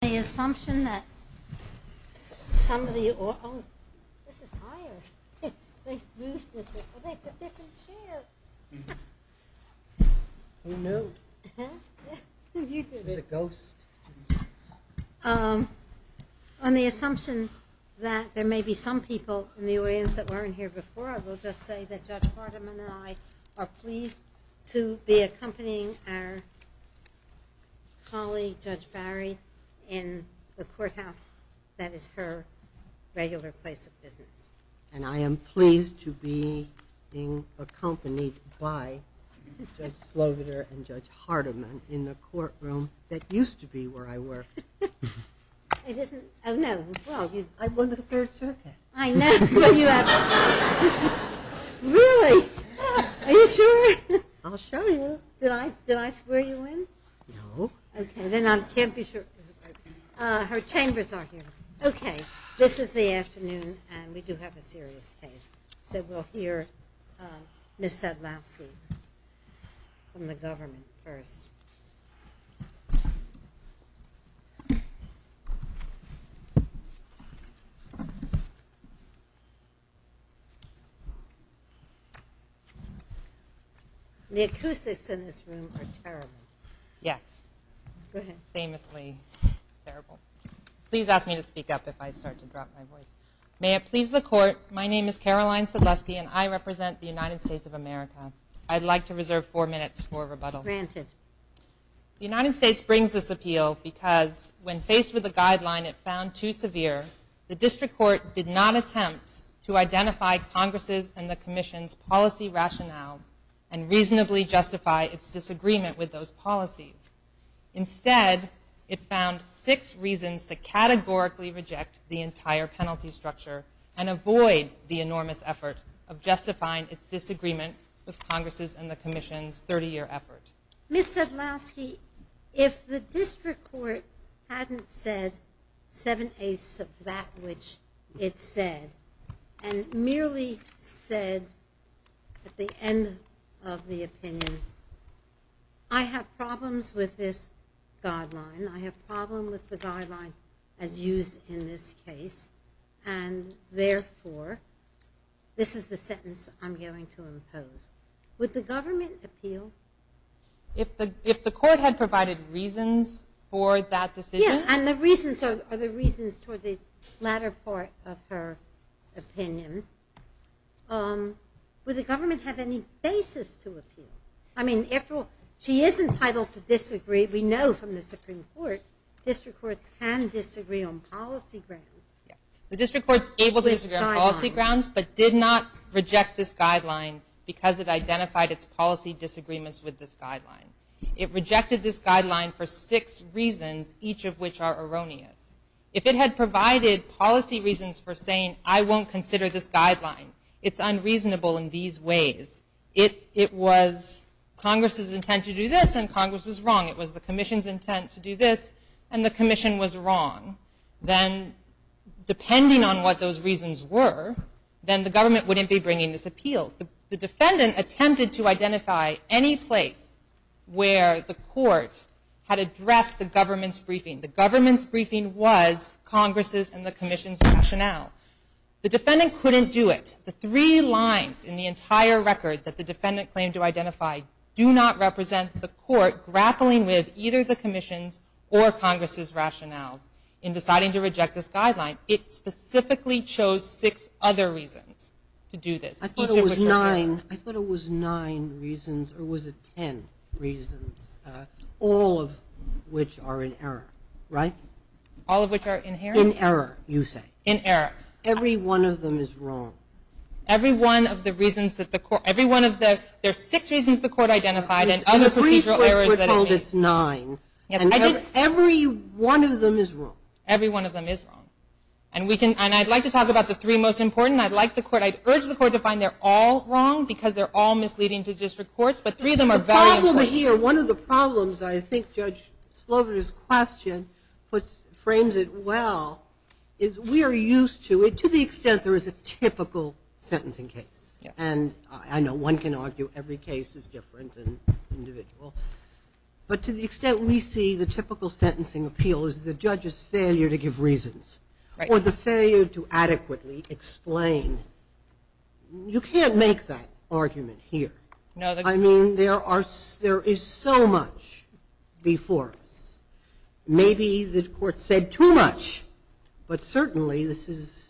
the assumption that somebody on the assumption that there may be some people in the audience that weren't here before I will just say that judge Bowery in the courthouse that is her regular place of business and I am pleased to be being accompanied by Judge Slobider and Judge Hardiman in the courtroom that used to be where I worked. I won the third circuit. I know. Really? Are you sure? I'll show you. Did I swear you in? No. Okay then I can't be sure. Her chambers are here. Okay this is the afternoon and we do have a serious case so we'll hear Ms. Sadlowski from the government first. The acoustics in this room are terrible. Yes. Famously terrible. Please ask me to speak up if I start to drop my voice. May it please the court my name is Caroline Sadlowski and I represent the United States of America. I'd like to appeal because when faced with a guideline it found too severe the district court did not attempt to identify Congress's and the Commission's policy rationales and reasonably justify its disagreement with those policies. Instead it found six reasons to categorically reject the entire penalty structure and avoid the enormous effort of justifying its disagreement with the district court hadn't said seven-eighths of that which it said and merely said at the end of the opinion I have problems with this guideline I have problem with the guideline as used in this case and therefore this is the sentence I'm going to impose. Would the government appeal? If the if the court had provided reasons for that decision. Yeah and the reasons are the reasons for the latter part of her opinion. Would the government have any basis to appeal? I mean after all she isn't entitled to disagree we know from the Supreme Court district courts can disagree on policy grounds. The district courts able to disagree on policy grounds but did not reject this guideline because it identified its policy disagreements with this guideline. It rejected this guideline for six reasons each of which are erroneous. If it had provided policy reasons for saying I won't consider this guideline it's unreasonable in these ways. If it was Congress's intent to do this and Congress was wrong it was the Commission's intent to do this and the Commission was wrong then depending on what those reasons were then the government wouldn't be bringing this appeal. The defendant attempted to court had addressed the government's briefing. The government's briefing was Congress's and the Commission's rationale. The defendant couldn't do it. The three lines in the entire record that the defendant claimed to identify do not represent the court grappling with either the Commission's or Congress's rationales in deciding to reject this guideline. It specifically chose six other reasons to do this. I thought it was nine I thought it was nine reasons or was it ten reasons all of which are in error right? All of which are in error you say. In error. Every one of them is wrong. Every one of the reasons that the court every one of the there's six reasons the court identified and other procedural errors. We're told it's nine. Every one of them is wrong. Every one of them is wrong and we can and I'd like to talk about the three most important I'd like the court I'd urge the court to find they're all wrong because they're all misleading to district courts but three of them are very important. One of the problems I think Judge Slover's question puts frames it well is we are used to it to the extent there is a typical sentencing case and I know one can argue every case is different and individual but to the extent we see the typical sentencing appeal is the judge's failure to give explain. You can't make that argument here. I mean there are there is so much before us. Maybe the court said too much but certainly this is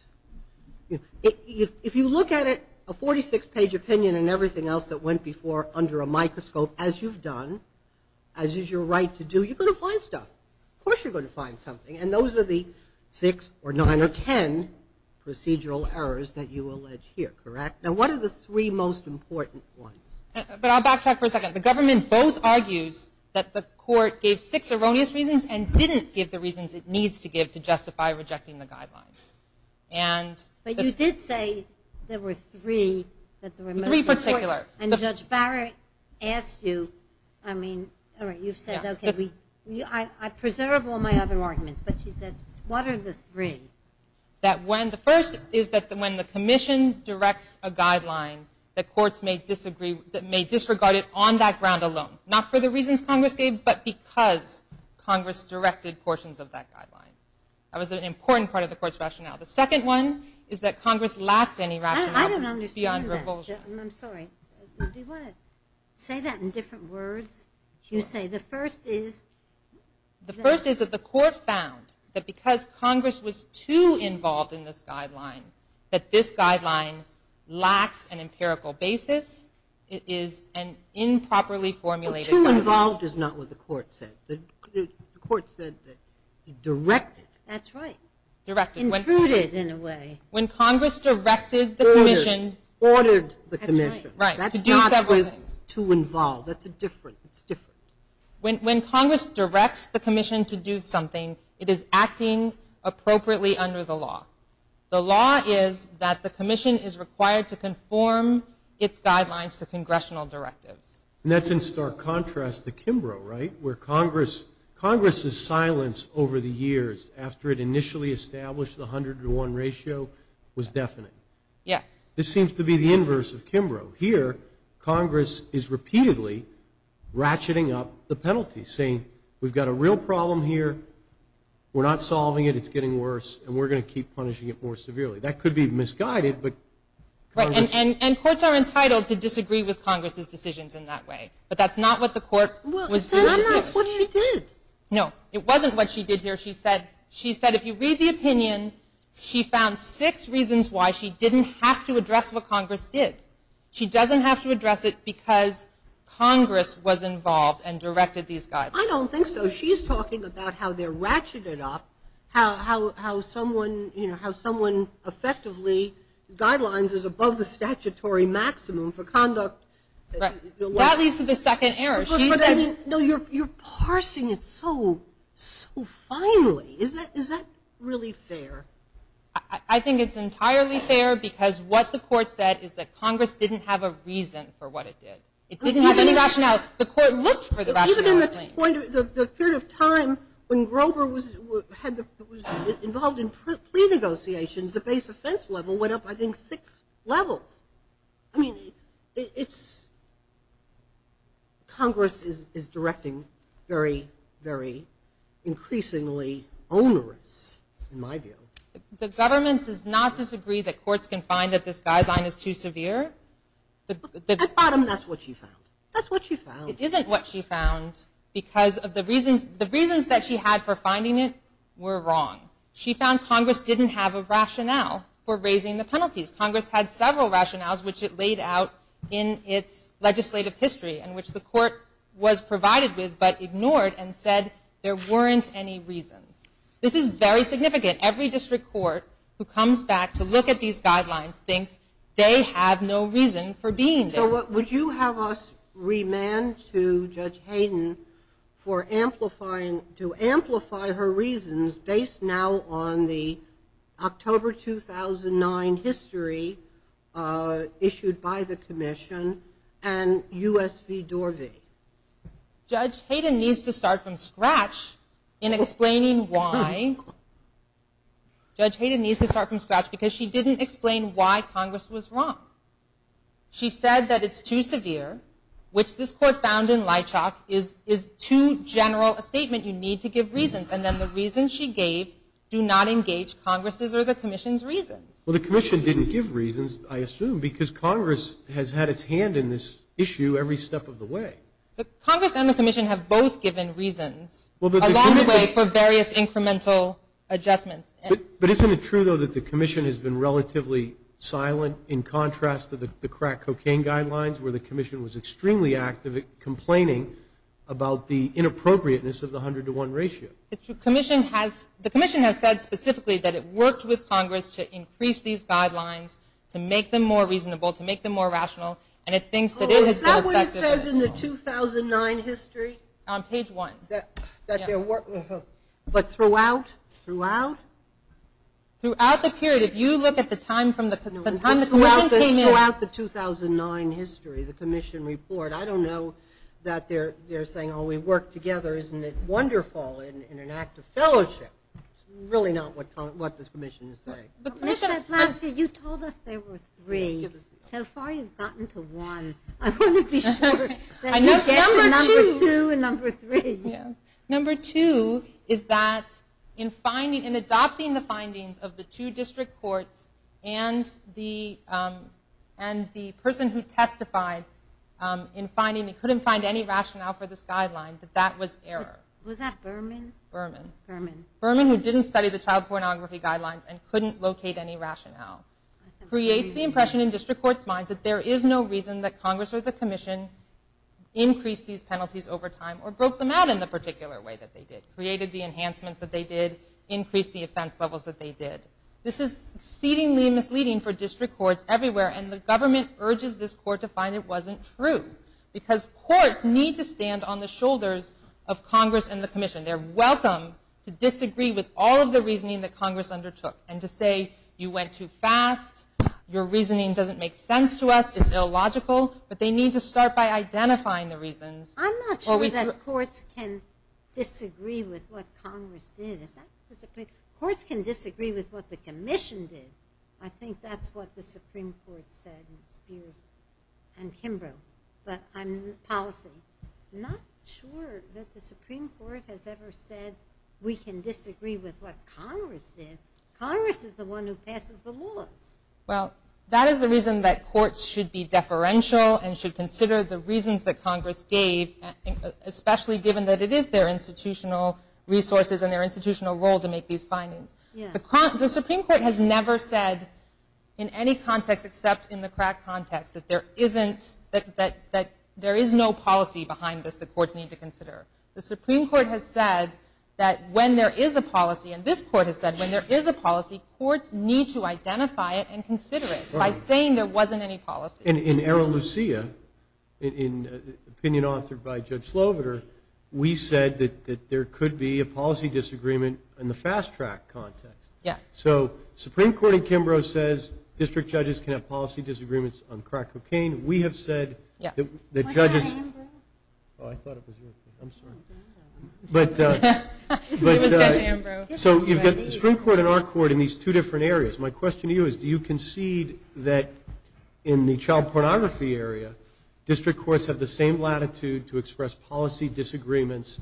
if you look at it a 46 page opinion and everything else that went before under a microscope as you've done as is your right to do you're going to find stuff. Of course you're going to find something and those are the six or nine or ten procedural errors that you allege here correct. Now what are the three most important ones? But I'll backtrack for a second the government both argues that the court gave six erroneous reasons and didn't give the reasons it needs to give to justify rejecting the guidelines. And but you did say there were three that the three particular and Judge Barrett asked you I mean all right you've said okay we you I preserve all my other arguments but she said what are the three? That when the first is that the when the Commission directs a guideline that courts may disagree that may disregard it on that ground alone not for the reasons Congress gave but because Congress directed portions of that guideline. That was an important part of the court's rationale. The second one is that Congress lacked any rationale beyond revulsion. I'm sorry say that in different words you say the first is the first is that the court found that because Congress was too involved in this guideline that this guideline lacks an empirical basis it is an improperly formulated. Too involved is not what the court said. The court said that directed. That's right. Directed. Intruded in a way. When Congress directed the Commission. Ordered the Commission. Right. That's not with too involved that's a different it's different. When Congress directs the appropriately under the law. The law is that the Commission is required to conform its guidelines to congressional directives. That's in stark contrast to Kimbrough right where Congress Congress's silence over the years after it initially established the hundred to one ratio was definite. Yes. This seems to be the inverse of Kimbrough. Here Congress is repeatedly ratcheting up the penalty saying we've got a real problem here. We're not solving it it's getting worse and we're going to keep punishing it more severely. That could be misguided. But. And courts are entitled to disagree with Congress's decisions in that way. But that's not what the court was. What she did. No it wasn't what she did here she said. She said if you read the opinion she found six reasons why she didn't have to address what Congress did. She doesn't have to address it because Congress was involved and directed these guys. I don't think so. She's talking about how they're ratcheted up. How how someone you know how someone effectively guidelines is above the statutory maximum for conduct. That leads to the second error. No you're you're parsing it so so finely. Is that is that really fair? I think it's entirely fair because what the court said is that Congress didn't have a reason for what it did. It didn't have any rationale. The court looked for the rationale. Even in the period of time when Grover was involved in plea negotiations the base offense level went up I think six levels. I mean it's Congress is directing very very increasingly onerous in my view. The government does not disagree that courts can find that this guideline is too severe. At bottom that's what you found. That's what you found. It isn't what she found because of the reasons the reasons that she had for finding it were wrong. She found Congress didn't have a rationale for raising the penalties. Congress had several rationales which it laid out in its legislative history and which the court was provided with but ignored and said there weren't any reasons. This is very significant. Every district court who have no reason for being there. So what would you have us remand to Judge Hayden for amplifying to amplify her reasons based now on the October 2009 history issued by the Commission and US v. Dorvey? Judge Hayden needs to start from scratch in explaining why. Judge Hayden needs to start from scratch because she didn't explain why Congress was wrong. She said that it's too severe which this court found in Leitchock is is too general a statement you need to give reasons and then the reason she gave do not engage Congress's or the Commission's reasons. Well the Commission didn't give reasons I assume because Congress has had its hand in this issue every step of the way. Congress and the Commission have both given reasons along the way for various incremental adjustments. But isn't it true though that the Commission has been relatively silent in contrast to the crack cocaine guidelines where the Commission was extremely active at complaining about the inappropriateness of the hundred to one ratio? The Commission has said specifically that it worked with Congress to increase these guidelines to make them more reasonable to make them more rational and it thinks that it has been effective as well. Oh is that what it says in the 2009 history? On page one. But throughout? Throughout? Throughout the period if you look at the time from the time the Commission came in. Throughout the 2009 history the Commission report I don't know that they're they're saying oh we work together isn't it wonderful in an act of fellowship. It's really not what what this Commission is saying. Mr. Eplaska you told us there were three so far you've got number one. I want to be sure. Number two is that in finding and adopting the findings of the two district courts and the and the person who testified in finding they couldn't find any rationale for this guideline that that was error. Was that Berman? Berman. Berman. Berman who didn't study the child pornography guidelines and couldn't locate any rationale. Creates the impression in district courts minds that there is no reason that Congress or the Commission increased these penalties over time or broke them out in the particular way that they did. Created the enhancements that they did. Increased the offense levels that they did. This is exceedingly misleading for district courts everywhere and the government urges this court to find it wasn't true because courts need to stand on the shoulders of Congress and the Commission. They're welcome to disagree with all of the reasoning that Congress undertook and to say you went too fast your reasoning doesn't make sense to us it's illogical but they need to start by identifying the reasons. I'm not sure that courts can disagree with what Congress did. Courts can disagree with what the Commission did. I think that's what the Supreme Court said in Spears and Kimbrough but I'm policy not sure that the Supreme Court has ever said we can disagree with what Congress did. Congress is the one who passes the laws. Well that is the reason that courts should be deferential and should consider the reasons that Congress gave especially given that it is their institutional resources and their institutional role to make these findings. The Supreme Court has never said in any context except in the crack context that there isn't that that there is no policy behind this the courts need to consider. The Supreme Court has said that when there is a policy and this court has said when there is a policy courts need to identify it and consider it by saying there wasn't any policy. And in Arrow Lucia in opinion authored by Judge Sloviter we said that there could be a policy disagreement in the fast-track context. Yeah. So Supreme Court in Kimbrough says district judges can have policy disagreements on crack cocaine we have said yeah the judges but so you've got the Supreme Court in our court in these two different areas my question to you is do you concede that in the child pornography area district courts have the same latitude to express policy disagreements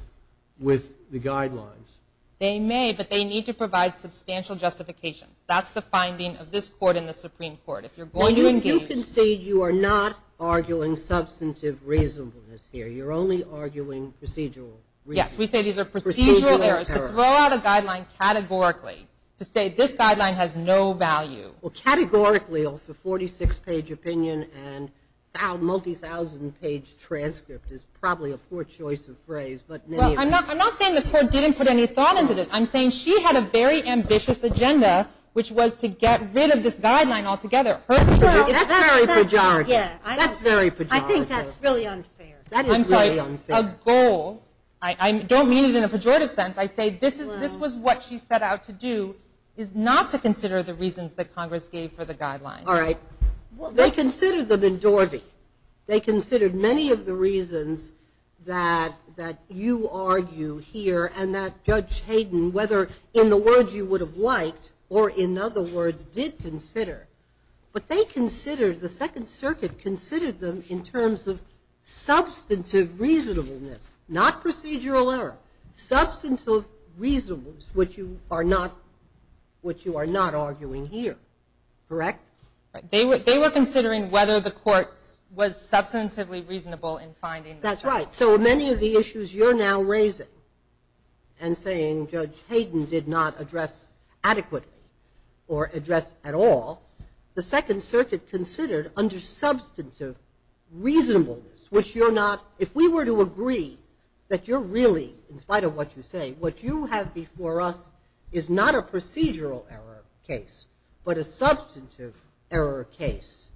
with the guidelines? They may but they need to provide substantial justifications that's the finding of this court in the Supreme Court if you're not arguing substantive reasonableness here you're only arguing procedural. Yes we say these are procedural errors to throw out a guideline categorically to say this guideline has no value. Well categorically off the 46 page opinion and found multi thousand page transcript is probably a poor choice of phrase but I'm not I'm not saying the court didn't put any thought into this I'm saying she had a very ambitious agenda which was to get rid of this guideline all together. That's very pejorative. I think that's really unfair. I'm sorry a goal I don't mean it in a pejorative sense I say this is this was what she set out to do is not to consider the reasons that Congress gave for the guideline. All right they considered them in Dorvey they considered many of the reasons that that you argue here and that Judge Hayden whether in the words you would have liked or in other words did consider but they considered the Second Circuit considered them in terms of substantive reasonableness not procedural error substantive reasonableness which you are not which you are not arguing here correct? They were they were considering whether the courts was substantively reasonable in finding. That's right so many of the issues you're now raising and saying Judge Hayden did not address adequately or address at all the Second Circuit considered under substantive reasonableness which you're not if we were to agree that you're really in spite of what you say what you have before us is not a procedural error case but a substantive error case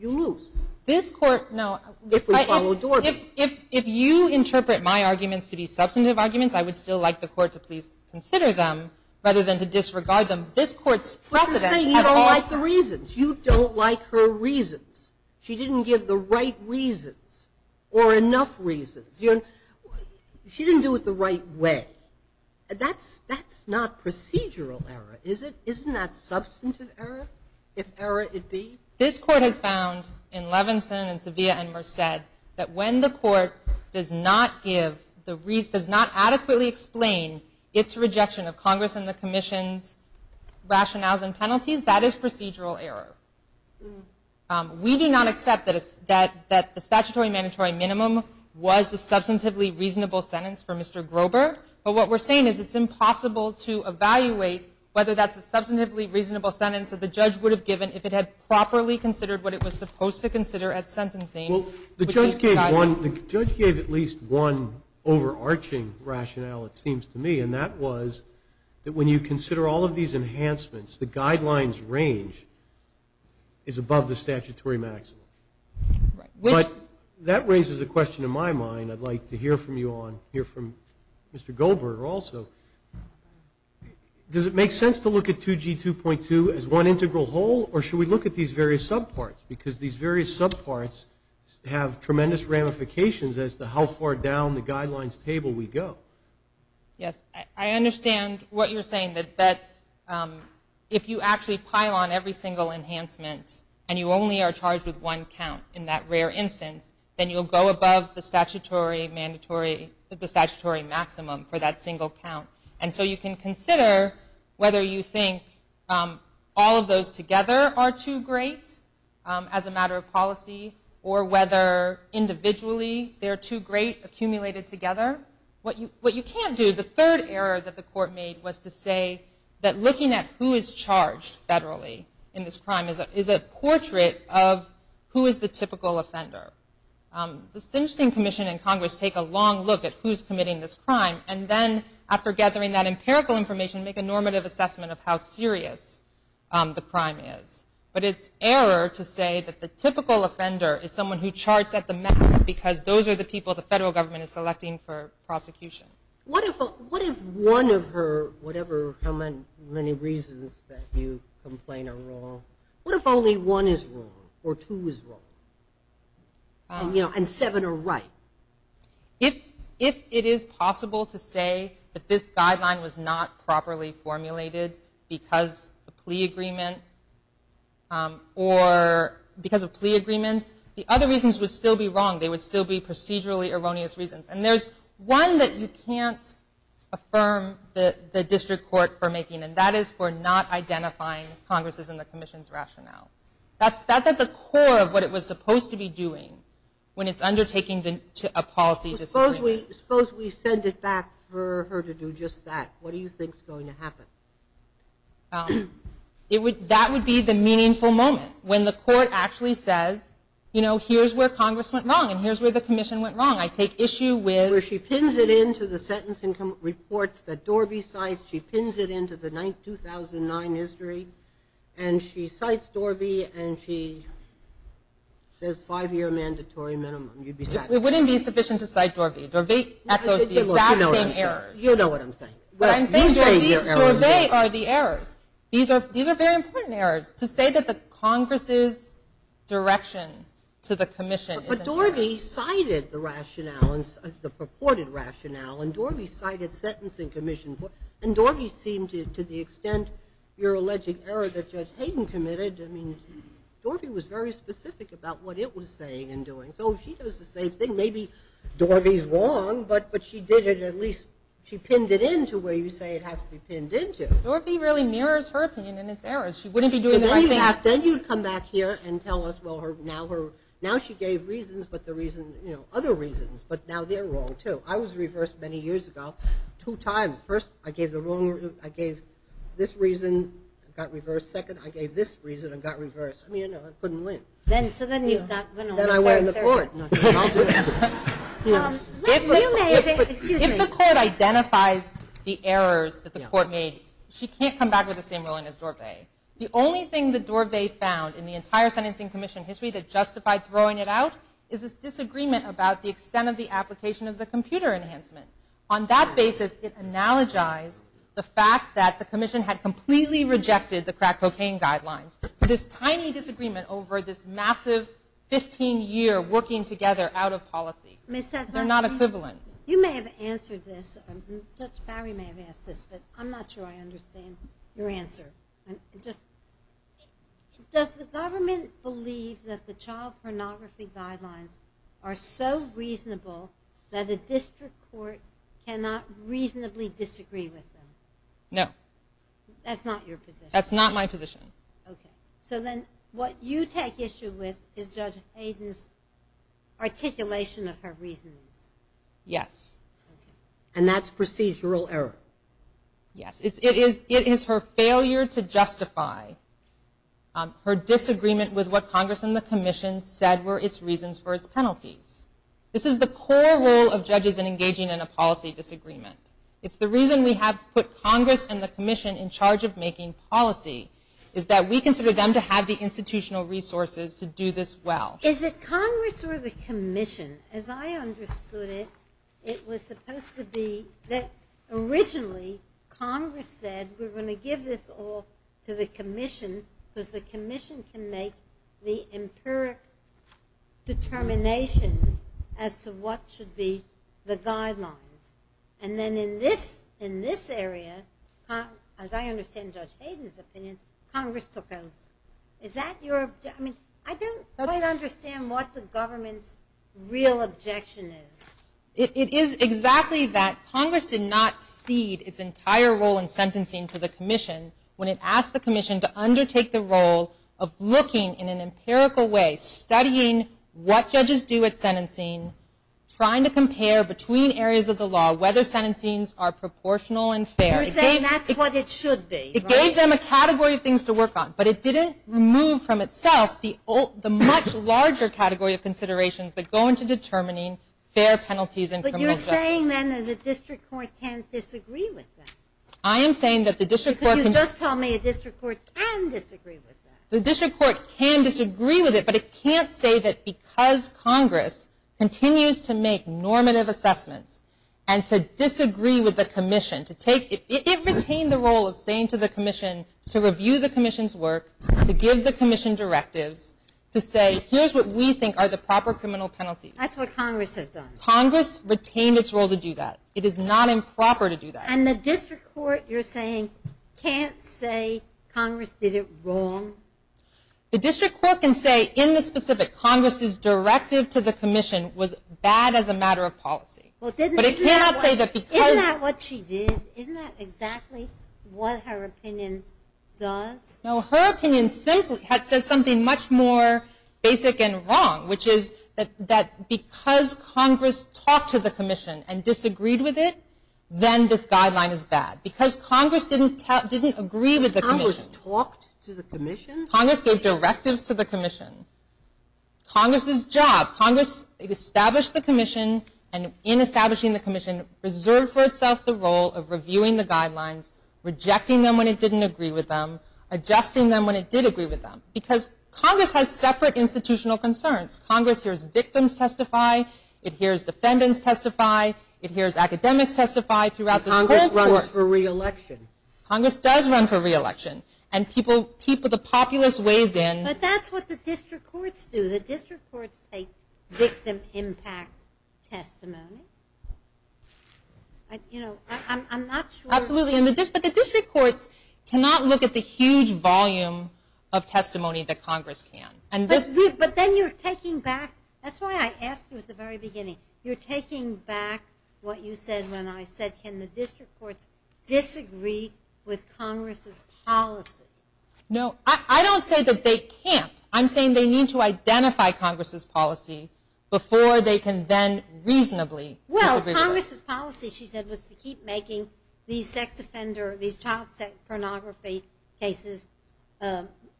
you lose. This court no if you interpret my arguments to be substantive arguments I would still like the court to please consider them rather than to disregard them this courts precedent. You don't like the reasons you don't like her reasons she didn't give the right reasons or enough reasons you know she didn't do it the right way that's that's not procedural error is it isn't that substantive error if error it be? This court has found in Levinson and Sevilla and Merced that when the court does not give the reason does not adequately explain its rejection of Congress and the Commission's rationales and penalties that is procedural error we do not accept that is that that the statutory mandatory minimum was the substantively reasonable sentence for Mr. Grober but what we're saying is it's impossible to evaluate whether that's a substantively reasonable sentence that the judge would have given if it had properly considered what it was supposed to consider at sentencing. Well the judge gave one the judge gave at least one overarching rationale it seems to me and that was that when you consider all of these enhancements the guidelines range is above the statutory maximum. But that raises a question in my mind I'd like to hear from you on here from Mr. Goldberg also does it make sense to look at 2g 2.2 as one integral whole or should we look at these various subparts because these various subparts have tremendous ramifications as to how far down the guidelines table we go. Yes I understand what you're saying that that if you actually pile on every single enhancement and you only are charged with one count in that rare instance then you'll go above the statutory mandatory the statutory maximum for that single count. And so you can consider whether you think all of those together are too great as a matter of policy or whether individually they're too great accumulated together. What you what you can't do the third error that the court made was to say that looking at who is charged federally in this crime is it is a portrait of who is the typical offender. This interesting commission in this crime and then after gathering that empirical information make a normative assessment of how serious the crime is. But it's error to say that the typical offender is someone who charts at the max because those are the people the federal government is selecting for prosecution. What if what if one of her whatever how many reasons that you complain are wrong what if only one is wrong or two is wrong you know and seven are right. If if it is possible to say that this guideline was not properly formulated because a plea agreement or because of plea agreements the other reasons would still be wrong they would still be procedurally erroneous reasons and there's one that you can't affirm the the district court for making and that is for not identifying Congress's and the Commission's rationale. That's that's at the core of what it was supposed to be doing when it's undertaking to a policy. Suppose we suppose we send it back for her to do just that what do you think is going to happen? It would that would be the meaningful moment when the court actually says you know here's where Congress went wrong and here's where the Commission went wrong. I take issue with. Where she pins it into the sentence income reports that Dorby cites she pins it into the 9th 2009 history and she cites Dorby and she says five-year mandatory minimum you'd be satisfied. It wouldn't be sufficient to cite Dorby. Dorby echoes the exact same errors. You know what I'm saying. Dorby are the errors. These are these are very important errors to say that the Congress's direction to the Commission. But Dorby cited the purported rationale and Dorby cited sentencing Commission and Dorby seemed to the extent your alleged error that Judge Hayden committed. I mean Dorby was very specific about what it was saying and doing. So she does the same thing maybe Dorby's wrong but but she did it at least she pinned it into where you say it has to be pinned into. Dorby really mirrors her opinion and it's errors. She wouldn't be doing the right thing. Then you come back here and tell us well her now her now she gave reasons but the reason you know other reasons but now they're wrong too. I was reversed many years ago. Two times. First I gave the wrong I gave this reason got reversed. Second I gave this reason and got reversed. I mean you know I couldn't win. Then so then you've got. Then I went in the court. If the court identifies the errors that the court made she can't come back with the same ruling as Dorby. The only thing that Dorby found in the entire sentencing Commission history that justified throwing it out is this disagreement about the extent of the application of the computer enhancement. On that basis it analogized the fact that the Commission had completely rejected the crack cocaine guidelines. This tiny disagreement over this massive 15 year working together out of policy. They're not equivalent. You may have answered this. Judge Barry may have asked this but I'm not sure I understand your answer. Just does the government believe that the child pornography guidelines are so reasonable that a district court cannot reasonably disagree with them? No. That's not your position. That's not my position. Okay so then what you take issue with is Judge Hayden's articulation of her reasons. Yes. And that's procedural error. Yes it is it is her failure to justify her disagreement with what Congress and the Commission said were its reasons for its penalties. This is the core role of judges in engaging in a policy disagreement. It's the reason we have put Congress and the Commission in charge of making policy is that we consider them to have the institutional resources to do this well. Is it Congress or the Commission? As I understood it it was supposed to be that originally Congress said we're going to give this all to the Commission because the empiric determinations as to what should be the guidelines and then in this in this area as I understand Judge Hayden's opinion Congress took over. Is that your I mean I don't understand what the government's real objection is. It is exactly that. Congress did not cede its entire role in sentencing to the Commission when it asked the Commission to undertake the role of looking in an empirical way studying what judges do at sentencing trying to compare between areas of the law whether sentencings are proportional and fair. You're saying that's what it should be. It gave them a category of things to work on but it didn't remove from itself the old the much larger category of considerations that go into determining fair penalties in criminal justice. But you're saying then that the District Court can't disagree with that. I am saying that the District Court can disagree with it but it can't say that because Congress continues to make normative assessments and to disagree with the Commission to take it retained the role of saying to the Commission to review the Commission's work to give the Commission directives to say here's what we think are the proper criminal penalties. That's what Congress has done. Congress retained its role to do that. It is not improper to do that. And the District Court you're saying can't say Congress did it wrong? The District Court can say in the specific Congress's directive to the Commission was bad as a matter of policy. But it cannot say that because. Isn't that what she did? Isn't that exactly what her opinion does? No her opinion simply says something much more basic and wrong which is that because Congress talked to the Commission and disagreed with it then this guideline is bad. Because Congress didn't agree with the Commission. Congress talked to the Commission? Congress gave directives to the Commission. Congress's job, Congress established the Commission and in establishing the Commission reserved for itself the role of reviewing the guidelines, rejecting them when it didn't agree with them, adjusting them when it did agree with them. Because Congress has separate institutional concerns. Congress hears victims testify, it hears defendants testify, it hears academics testify throughout the whole course. Congress runs for re-election. Congress does run for re-election. And people, the populace weighs in. But that's what the District Courts do. The District Courts take victim impact testimony. I'm not sure. Absolutely. But the District Courts cannot look at the huge volume of testimony that Congress can. But then you're taking back, that's why I asked you at the very beginning, you're taking back what you said when I said can the District Courts disagree with Congress's policy? No, I don't say that they can't. I'm saying they need to identify Congress's policy before they can then reasonably disagree with it. Congress's policy, she said, was to keep making these sex offender, these child sex pornography cases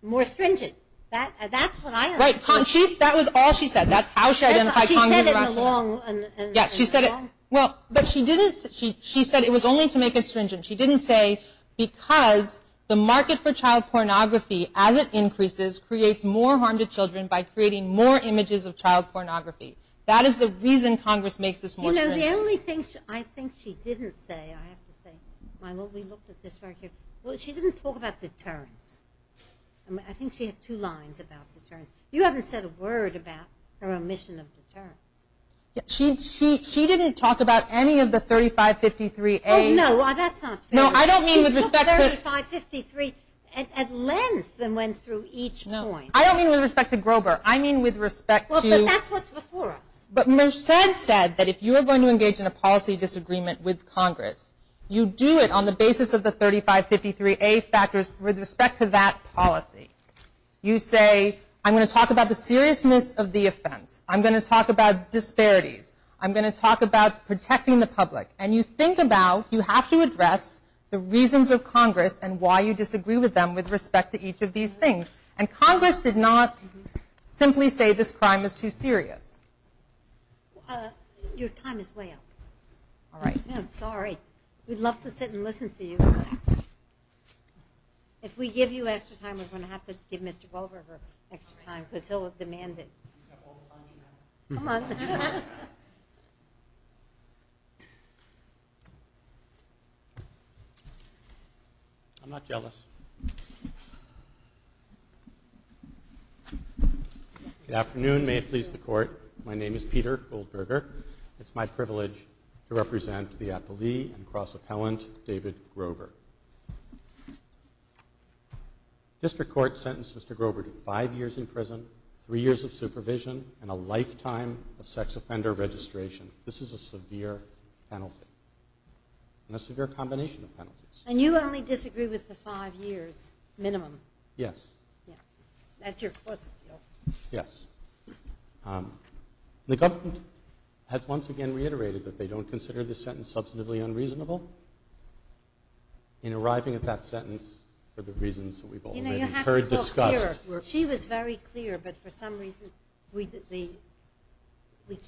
more stringent. That's what I understood. Right, that was all she said. That's how she identified Congress's rationale. She said it in the long run. Yes, she said it. Well, but she didn't, she said it was only to make it stringent. She didn't say because the market for child pornography as it increases creates more harm to children by creating more images of child pornography. That is the reason Congress makes this more stringent. You know, the only thing I think she didn't say, I have to say, Milo, we looked at this right here. Well, she didn't talk about deterrence. I think she had two lines about deterrence. You haven't said a word about her omission of deterrence. She didn't talk about any of the 3553A. Oh, no, that's not fair. No, I don't mean with respect to... She took 3553 at length and went through each point. No, I don't mean with respect to Grover. I mean with respect to... Well, but that's what's before us. But Merced said that if you are going to engage in a policy disagreement with Congress, you do it on the basis of the 3553A factors with respect to that policy. You say, I'm going to talk about the seriousness of the offense. I'm going to talk about disparities. I'm going to talk about protecting the public. And you think about, you have to address the reasons of Congress and why you disagree with them with respect to each of these things. And Congress did not simply say this crime is too serious. Your time is way up. All right. I'm sorry. We'd love to sit and listen to you. If we give you extra time, we're going to have to give Mr. Grover extra time because he'll have demanded. Come on. I'm not jealous. Good afternoon. May it please the Court. My name is Peter Goldberger. It's my privilege to represent the appellee and cross-appellant David Grover. District Court sentenced Mr. Grover to five years in prison, three years of supervision, and a lifetime of sex offender registration. This is a severe penalty and a severe combination of penalties. And you only disagree with the five years minimum? Yes. Yeah. That's your plus appeal. Yes. The government has once again reiterated that they don't consider this sentence to be substantively unreasonable. In arriving at that sentence are the reasons that we've already heard discussed. She was very clear, but for some reason we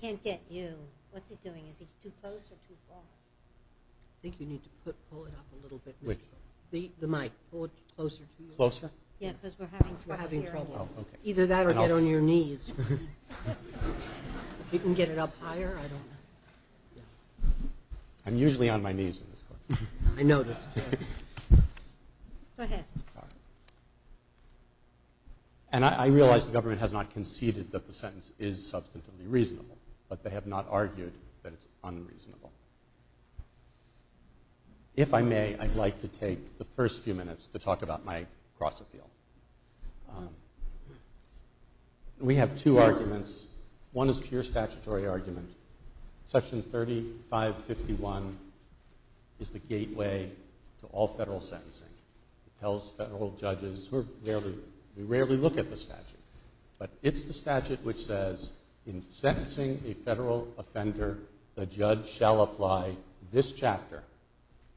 can't get you. What's he doing? Is he too close or too far? I think you need to pull it up a little bit. Which one? The mic. Pull it closer to you. Closer? Yeah, because we're having trouble. We're having trouble. Okay. Either that or get on your knees. If you can get it up higher, I don't know. I'm usually on my knees in this court. I noticed. Go ahead. And I realize the government has not conceded that the sentence is substantively reasonable, but they have not argued that it's unreasonable. If I may, I'd like to take the first few minutes to talk about my cross appeal. We have two arguments. One is a pure statutory argument. Section 3551 is the gateway to all federal sentencing. It tells federal judges we rarely look at the statute, but it's the statute which says in sentencing a federal offender, the judge shall apply this chapter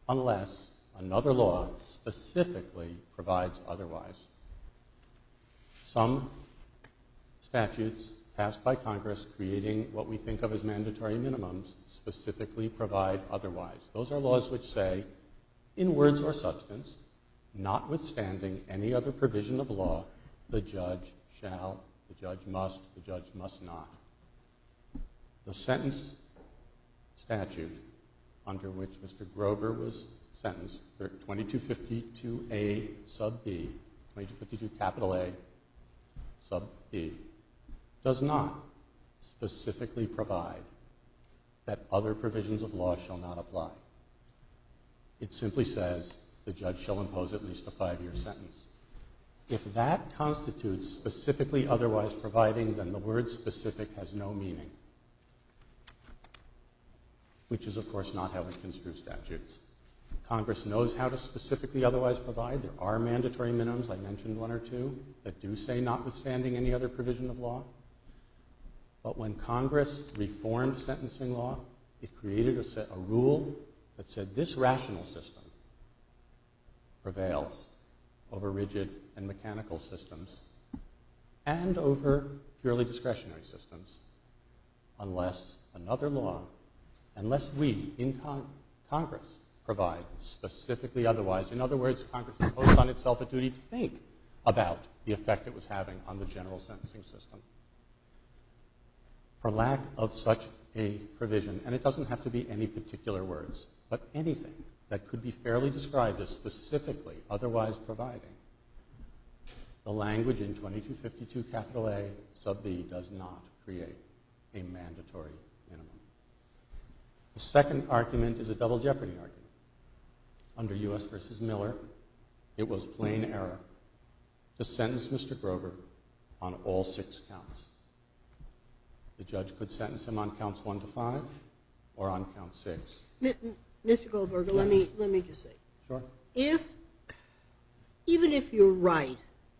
unless another law specifically provides otherwise. Some statutes passed by Congress creating what we think of as mandatory minimums specifically provide otherwise. Those are laws which say, in words or substance, notwithstanding any other provision of law, the judge shall, the judge must, the judge must not. The sentence statute under which Mr. Grover was sentenced, 2252A sub B, 2252 capital A sub B, does not specifically provide that other provisions of law shall not apply. It simply says the judge shall impose at least a five-year sentence. If that constitutes specifically otherwise providing, then the word specific has no meaning, which is, of course, not how we construe statutes. Congress knows how to specifically otherwise provide. There are mandatory minimums, I mentioned one or two, that do say notwithstanding any other provision of law. But when Congress reformed sentencing law, it created a rule that said this rational system prevails over rigid and mechanical systems and over purely discretionary systems unless another law, unless we in Congress provide specifically otherwise. In other words, Congress imposed on itself a duty to think about the effect it was having on the general sentencing system. For lack of such a provision, and it doesn't have to be any particular words, but anything that could be fairly described as specifically otherwise providing, the language in 2252 capital A sub B does not create a mandatory minimum. The second argument is a double jeopardy argument. Under U.S. v. Miller, it was plain error to sentence Mr. Grover on all six counts. The judge could sentence him on counts one to five or on count six. Mr. Goldberger, let me just say. Sure. Even if you're right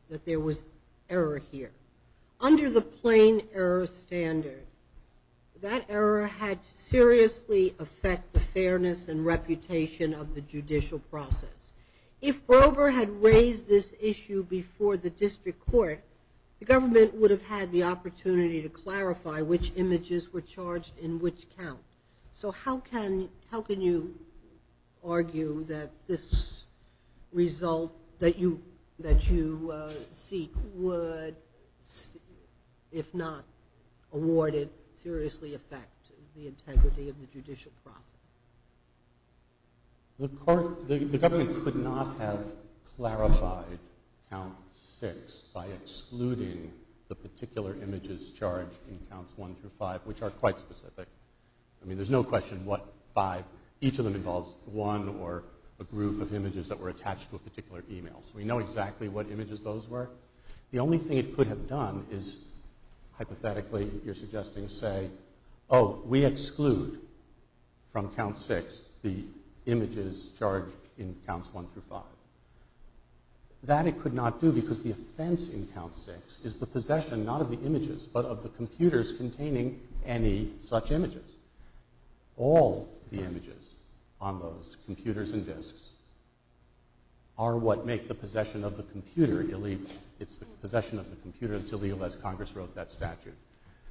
that there was error here, under the plain error standard, that error had to seriously affect the fairness and reputation of the judicial process. If Grover had raised this issue before the district court, the government would have had the opportunity to clarify which images were charged in which count. So how can you argue that this result that you seek would, if not award it, seriously affect the integrity of the judicial process? The government could not have clarified count six by excluding the particular images charged in counts one through five, which are quite specific. I mean, there's no question what five. Each of them involves one or a group of images that were attached to a particular email. So we know exactly what images those were. The only thing it could have done is, hypothetically, you're suggesting, say, oh, we exclude from count six the images charged in counts one through five. That it could not do because the offense in count six is the possession, not of the images, but of the computers containing any such images. All the images on those computers and disks are what make the possession of the computer illegal. It's the possession of the computer that's illegal, as Congress wrote that statute.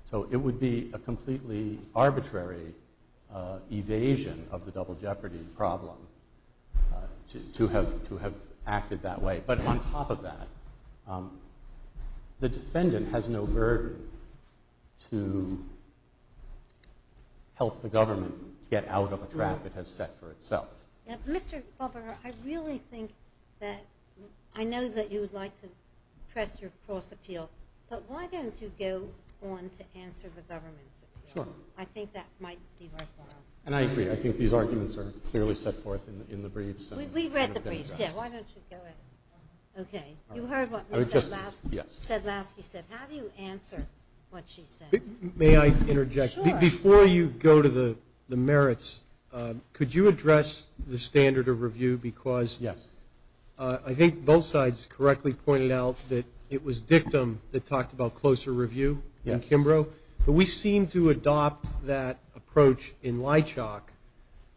So it would be a completely arbitrary evasion of the double jeopardy problem to have acted that way. But on top of that, the defendant has no burden to help the government get out of a trap it has set for itself. Mr. Klobuchar, I really think that I know that you would like to press your cross appeal, but why don't you go on to answer the government's appeal? I think that might be worthwhile. And I agree. I think these arguments are clearly set forth in the briefs. We've read the briefs. Yeah, why don't you go ahead. Okay. You heard what Ms. Sedlowski said. How do you answer what she said? May I interject? Sure. Before you go to the merits, could you address the standard of review? Yes. I think both sides correctly pointed out that it was Dictum that talked about closer review in Kimbrough. But we seem to adopt that approach in Lychok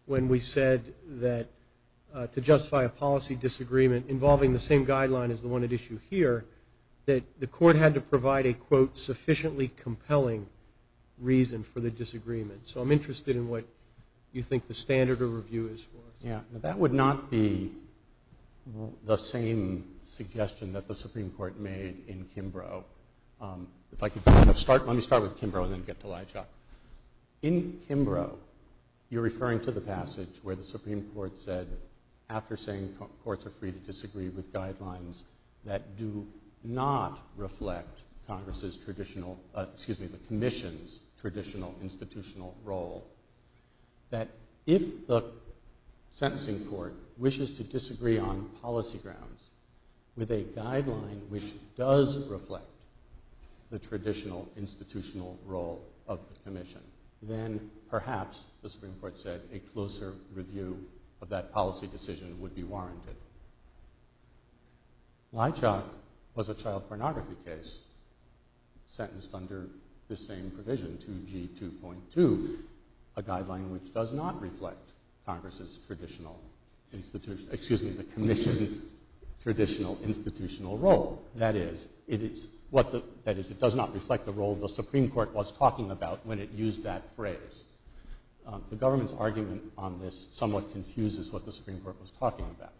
when we said that to justify a policy disagreement involving the same guideline as the one at issue here, that the court had to provide a, quote, sufficiently compelling reason for the disagreement. So I'm interested in what you think the standard of review is for us. Yeah, that would not be the same suggestion that the Supreme Court made in Kimbrough. If I could kind of start, let me start with Kimbrough and then get to Lychok. In Kimbrough, you're referring to the passage where the Supreme Court said, after saying courts are free to disagree with guidelines that do not reflect Congress's traditional, excuse me, the commission's traditional institutional role, that if the sentencing court wishes to disagree on policy grounds with a guideline which does reflect the traditional institutional role of the commission, then perhaps, the Supreme Court said, a closer review of that policy decision would be warranted. Lychok was a child pornography case sentenced under the same provision, 2G2.2, a guideline which does not reflect Congress's traditional institutional, excuse me, the commission's traditional institutional role. That is, it does not reflect the role the Supreme Court was talking about when it used that phrase. The government's argument on this somewhat confuses what the Supreme Court was talking about.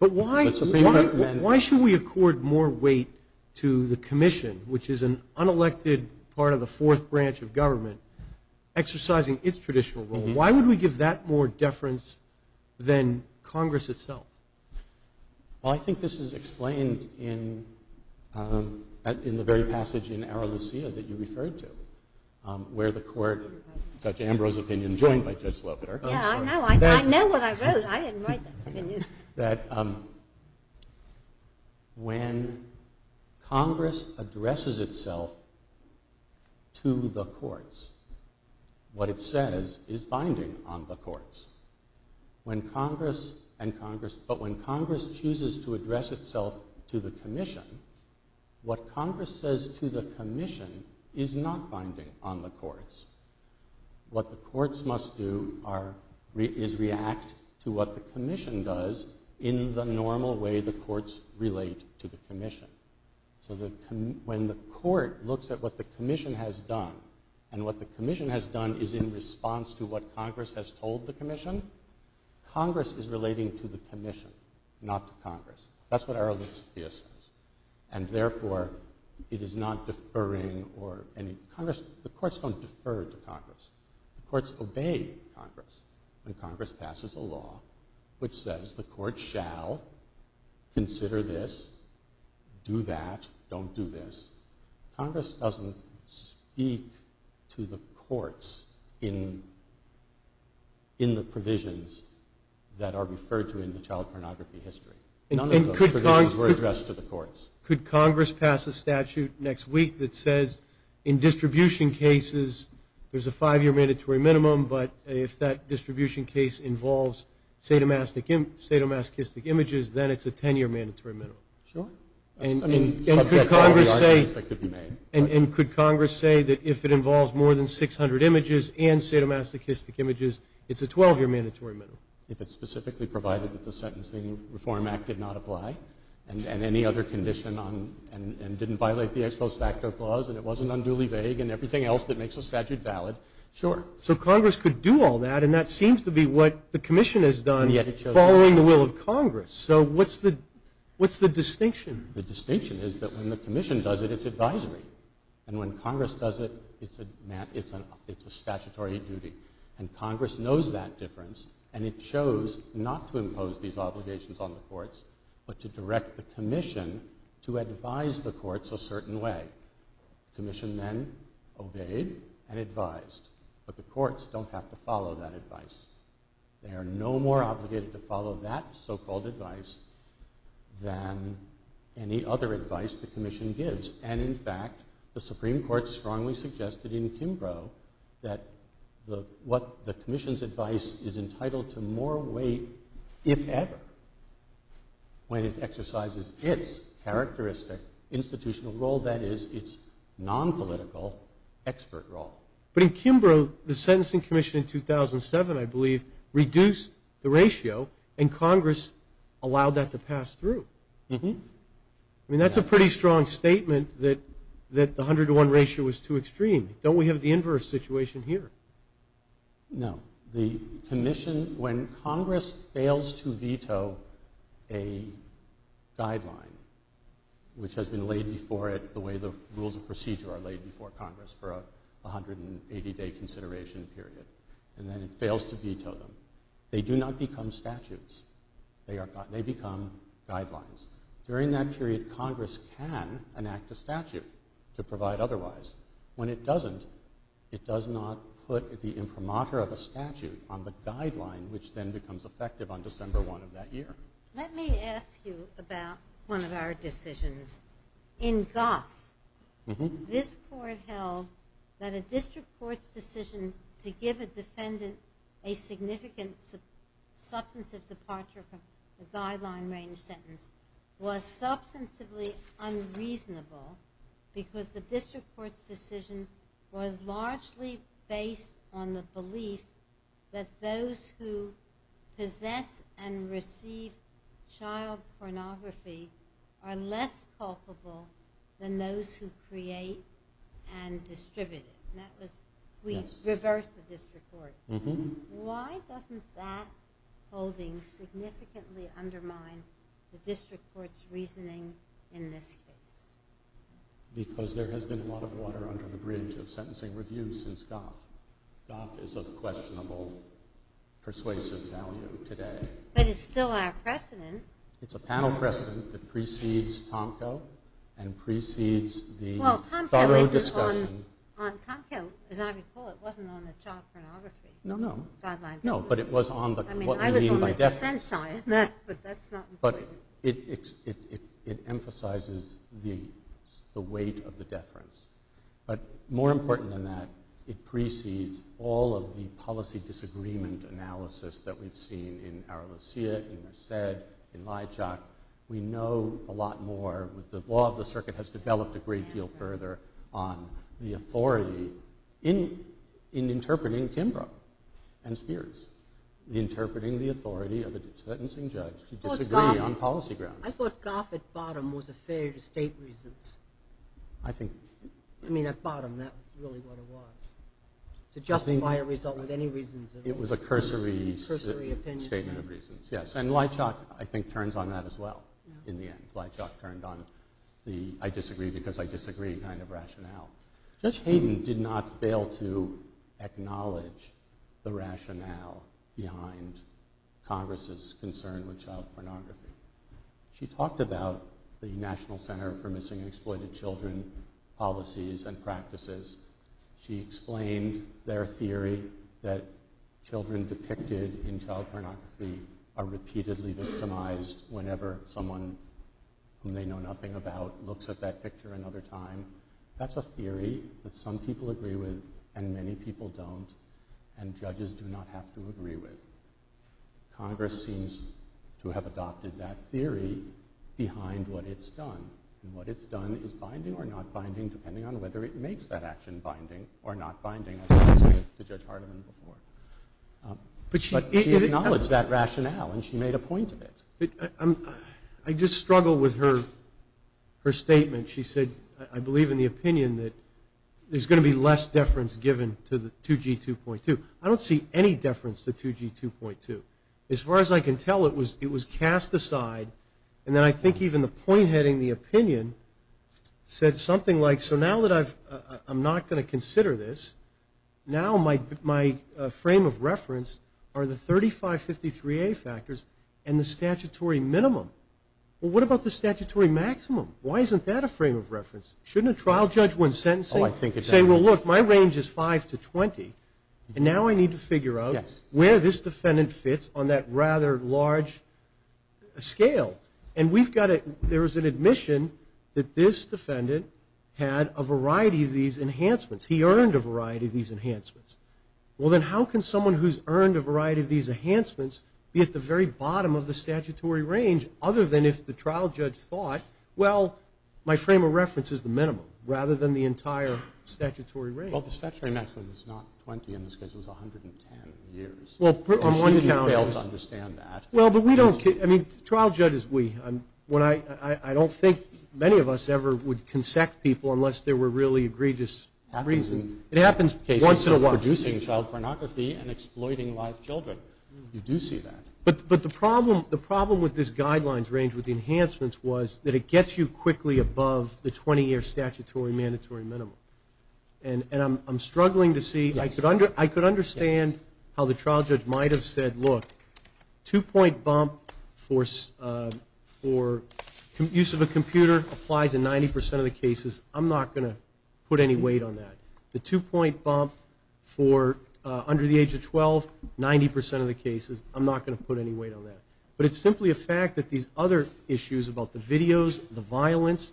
But why should we accord more weight to the commission, which is an unelected part of the fourth branch of government, exercising its traditional role? Why would we give that more deference than Congress itself? Well, I think this is explained in the very passage in Ara Lucia that you referred to, where the court, Judge Ambrose's opinion, joined by Judge Lopeter. Yeah, I know. I know what I wrote. I didn't write that opinion. That when Congress addresses itself to the courts, what it says is binding on the courts. But when Congress chooses to address itself to the commission, what Congress says to the commission is not binding on the courts. What the courts must do is react to what the commission does in the normal way the courts relate to the commission. So when the court looks at what the commission has done, and what the commission has done is in response to what Congress has told the commission, Congress is relating to the commission, not to Congress. That's what Ara Lucia says. And therefore, it is not deferring, or any, Congress, the courts don't defer to Congress. The courts obey Congress. When Congress passes a law which says the court shall consider this, do that, don't do this, Congress doesn't speak to the courts in the provisions that are referred to in the child pornography history. None of those provisions were addressed to the courts. Could Congress pass a statute next week that says in distribution cases, there's a five-year mandatory minimum, but if that distribution case involves sadomasochistic images, then it's a ten-year mandatory minimum. Sure. And could Congress say that if it involves more than 600 images and sadomasochistic images, it's a 12-year mandatory minimum? If it's specifically provided that the Sentencing Reform Act did not apply, and any other condition on, and didn't violate the ex post facto clause, and it wasn't unduly vague, and everything else that makes a statute valid. Sure. So Congress could do all that, and that seems to be what the commission has done following the will of Congress. So what's the distinction? The distinction is that when the commission does it, it's advisory. And when Congress does it, it's a statutory duty. And Congress knows that difference, and it chose not to impose these obligations on the courts, but to direct the commission to advise the courts a certain way. The commission then obeyed and advised, but the courts don't have to follow that advice. They are no more obligated to follow that so-called advice than any other advice the commission gives. And, in fact, the Supreme Court strongly suggested in Kimbrough that what the commission's advice is entitled to more weight, if ever, when it exercises its characteristic institutional role, that is, its nonpolitical expert role. But in Kimbrough, the sentencing commission in 2007, I believe, reduced the ratio, and Congress allowed that to pass through. I mean, that's a pretty strong statement that the 101 ratio was too extreme. Don't we have the inverse situation here? No. The commission, when Congress fails to veto a guideline, which has been laid before it the way the rules and procedure are laid before Congress for a 180-day consideration period, and then it fails to veto them, they do not become statutes. They become guidelines. During that period, Congress can enact a statute to provide otherwise. When it doesn't, it does not put the imprimatur of a statute on the guideline, which then becomes effective on December 1 of that year. Let me ask you about one of our decisions. In Guth, this court held that a district court's decision to give a defendant a significant substantive departure from the guideline range sentence was substantively unreasonable because the district court's decision was largely based on the belief that those who possess and receive child pornography are less culpable than those who create and distribute it. We reversed the district court. Why doesn't that holding significantly undermine the district court's reasoning in this case? Because there has been a lot of water under the bridge of sentencing reviews since Guth. Guth is of questionable persuasive value today. But it's still our precedent. It's a panel precedent that precedes Tomko and precedes the thorough discussion. Well, Tomko, as I recall, it wasn't on the child pornography guideline. No, but it was on what we mean by death. I mean, I was on the consent side, but that's not important. It emphasizes the weight of the deference. But more important than that, it precedes all of the policy disagreement analysis that we've seen in Aralocia, in Merced, in Lijak. We know a lot more. The law of the circuit has developed a great deal further on the authority in interpreting Kimbrough and Spears, interpreting the authority of a sentencing judge to disagree on policy grounds. I thought Guth at bottom was a failure to state reasons. I think... I mean, at bottom, that's really what it was. To justify a result with any reasons at all. It was a cursory statement of reasons, yes. And Lijak, I think, turns on that as well in the end. Lijak turned on the I disagree because I disagree kind of rationale. Judge Hayden did not fail to acknowledge the rationale behind Congress' concern with child pornography. She talked about the National Center for Missing and Exploited Children policies and practices. She explained their theory that children depicted in child pornography are repeatedly victimized whenever someone whom they know nothing about looks at that picture another time. That's a theory that some people agree with and many people don't and judges do not have to agree with. Congress seems to have adopted that theory behind what it's done. And what it's done is binding or not binding depending on whether it makes that action binding or not binding, as I was saying to Judge Hardiman before. But she acknowledged that rationale and she made a point of it. I just struggle with her statement. She said, I believe in the opinion that there's going to be less deference given to 2G2.2. I don't see any deference to 2G2.2. As far as I can tell, it was cast aside. And then I think even the point heading in the opinion said something like, so now that I'm not going to consider this, now my frame of reference are the 3553A factors and the statutory minimum. Well, what about the statutory maximum? Why isn't that a frame of reference? Shouldn't a trial judge when sentencing say, well, look, my range is 5 to 20, and now I need to figure out where this defendant fits on that rather large scale. And there was an admission that this defendant had a variety of these enhancements. He earned a variety of these enhancements. Well, then how can someone who's earned a variety of these enhancements be at the very bottom of the statutory range other than if the trial judge thought, well, my frame of reference is the minimum, rather than the entire statutory range? Well, the statutory maximum is not 20. In this case, it was 110 years. And she didn't fail to understand that. Well, but we don't – I mean, the trial judge is we. I don't think many of us ever would consect people unless there were really egregious reasons. It happens once in a while. It happens in cases of producing child pornography and exploiting live children. You do see that. But the problem with this guidelines range, with the enhancements, was that it gets you quickly above the 20-year statutory mandatory minimum. And I'm struggling to see – I could understand how the trial judge might have said, look, two-point bump for use of a computer applies in 90 percent of the cases. I'm not going to put any weight on that. The two-point bump for under the age of 12, 90 percent of the cases, I'm not going to put any weight on that. But it's simply a fact that these other issues about the videos, the violence,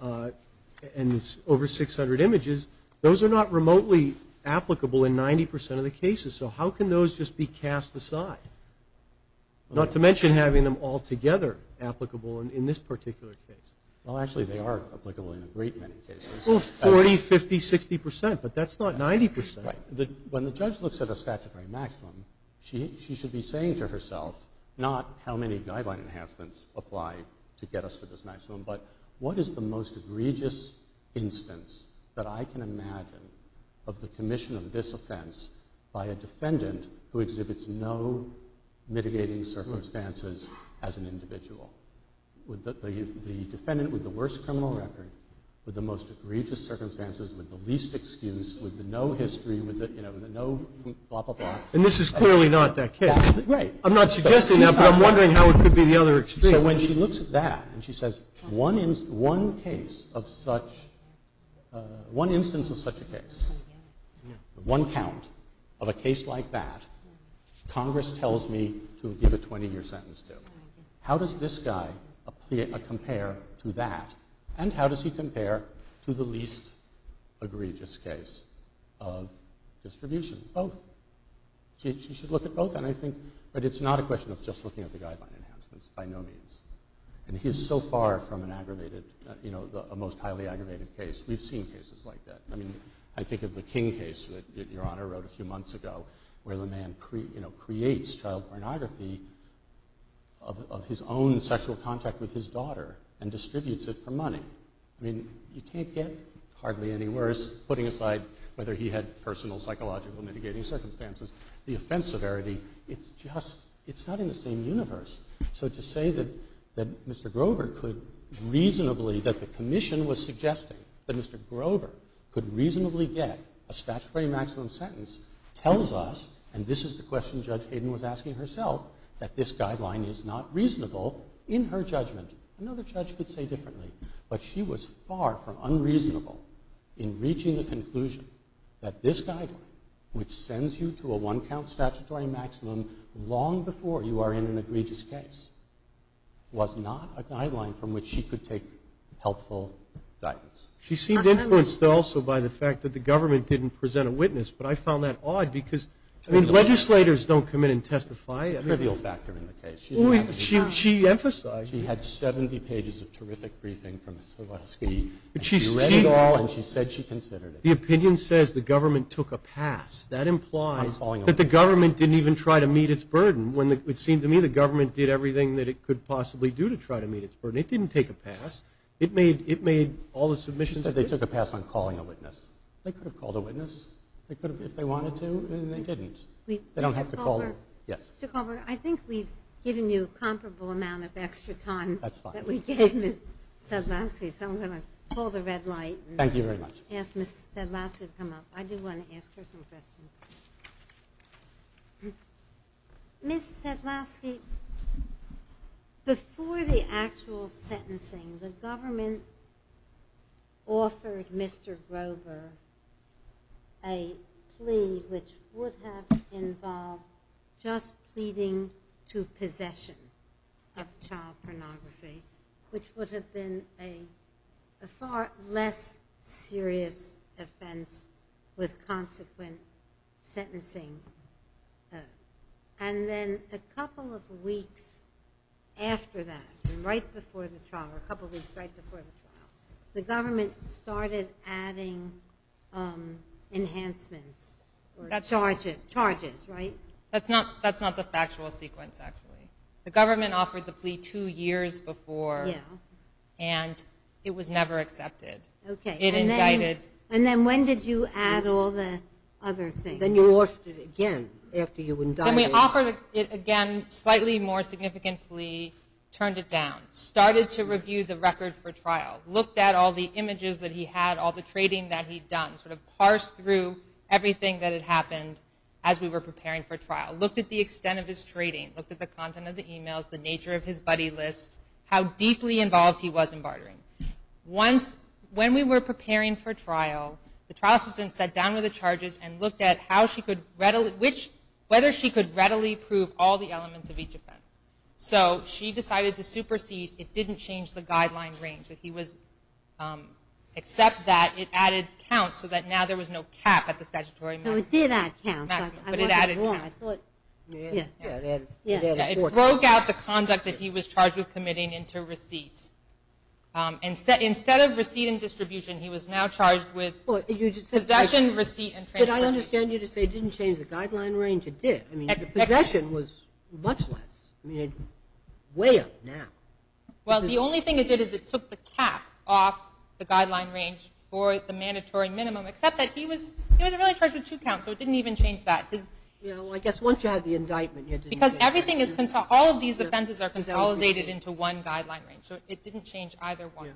and over 600 images, those are not remotely applicable in 90 percent of the cases. So how can those just be cast aside? Not to mention having them all together applicable in this particular case. Well, actually, they are applicable in a great many cases. Well, 40, 50, 60 percent, but that's not 90 percent. Right. When the judge looks at a statutory maximum, she should be saying to herself, not how many guideline enhancements apply to get us to this maximum, but what is the most egregious instance that I can imagine of the commission of this offense by a defendant who exhibits no mitigating circumstances as an individual? The defendant with the worst criminal record, with the most egregious circumstances, with the least excuse, with the no history, with the no blah, blah, blah. And this is clearly not that case. Right. I'm not suggesting that, but I'm wondering how it could be the other extreme. So when she looks at that and she says, one instance of such a case, one count of a case like that, Congress tells me to give a 20-year sentence to. How does this guy compare to that? And how does he compare to the least egregious case of distribution? Both. She should look at both. And I think it's not a question of just looking at the guideline enhancements by no means. And he is so far from an aggravated, you know, a most highly aggravated case. We've seen cases like that. I mean, I think of the King case that Your Honor wrote a few months ago where the man creates child pornography of his own sexual contact with his daughter and distributes it for money. I mean, you can't get hardly any worse, putting aside whether he had personal psychological mitigating circumstances. The offense severity, it's just, it's not in the same universe. So to say that Mr. Grover could reasonably, that the commission was suggesting that Mr. Grover could reasonably get a statutory maximum sentence tells us, and this is the question Judge Hayden was asking herself, that this guideline is not reasonable in her judgment. Another judge could say differently. But she was far from unreasonable in reaching the conclusion that this guideline, which sends you to a one-count statutory maximum long before you are in an egregious case, was not a guideline from which she could take helpful guidance. She seemed influenced also by the fact that the government didn't present a witness, but I found that odd because, I mean, legislators don't come in and testify. It's a trivial factor in the case. She emphasized it. She had 70 pages of terrific briefing from Sileski. She read it all and she said she considered it. The opinion says the government took a pass. That implies that the government didn't even try to meet its burden. It seemed to me the government did everything that it could possibly do to try to meet its burden. It didn't take a pass. It made all the submissions. She said they took a pass on calling a witness. They could have called a witness if they wanted to, and they didn't. They don't have to call. Mr. Culver, I think we've given you a comparable amount of extra time that we gave Ms. Sedlowski, so I'm going to pull the red light and ask Ms. Sedlowski to come up. I do want to ask her some questions. Ms. Sedlowski, before the actual sentencing, the government offered Mr. Grover a plea which would have involved just pleading to possession of child pornography, which would have been a far less serious offense with consequent sentencing. Then a couple of weeks after that, right before the trial, the government started adding enhancements or charges, right? That's not the factual sequence, actually. The government offered the plea two years before, and it was never accepted. It indicted. And then when did you add all the other things? Then you watched it again after you indicted. Then we offered it again, slightly more significant plea, turned it down, started to review the record for trial, looked at all the images that he had, all the trading that he'd done, sort of parsed through everything that had happened as we were preparing for trial, looked at the extent of his trading, looked at the content of the emails, the nature of his buddy list, how deeply involved he was in bartering. When we were preparing for trial, the trial assistant sat down with the charges and looked at whether she could readily prove all the elements of each offense. So she decided to supersede. It didn't change the guideline range. Except that it added counts so that now there was no cap at the statutory maximum. It did add counts. But it added counts. It broke out the conduct that he was charged with committing into receipts. Instead of receipt and distribution, he was now charged with possession, receipt, and transaction. But I understand you to say it didn't change the guideline range. It did. Possession was much less. It's way up now. Well, the only thing it did is it took the cap off the guideline range for the mandatory minimum. Except that he was really charged with two counts, so it didn't even change that. Well, I guess once you have the indictment. Because all of these offenses are consolidated into one guideline range, so it didn't change either one.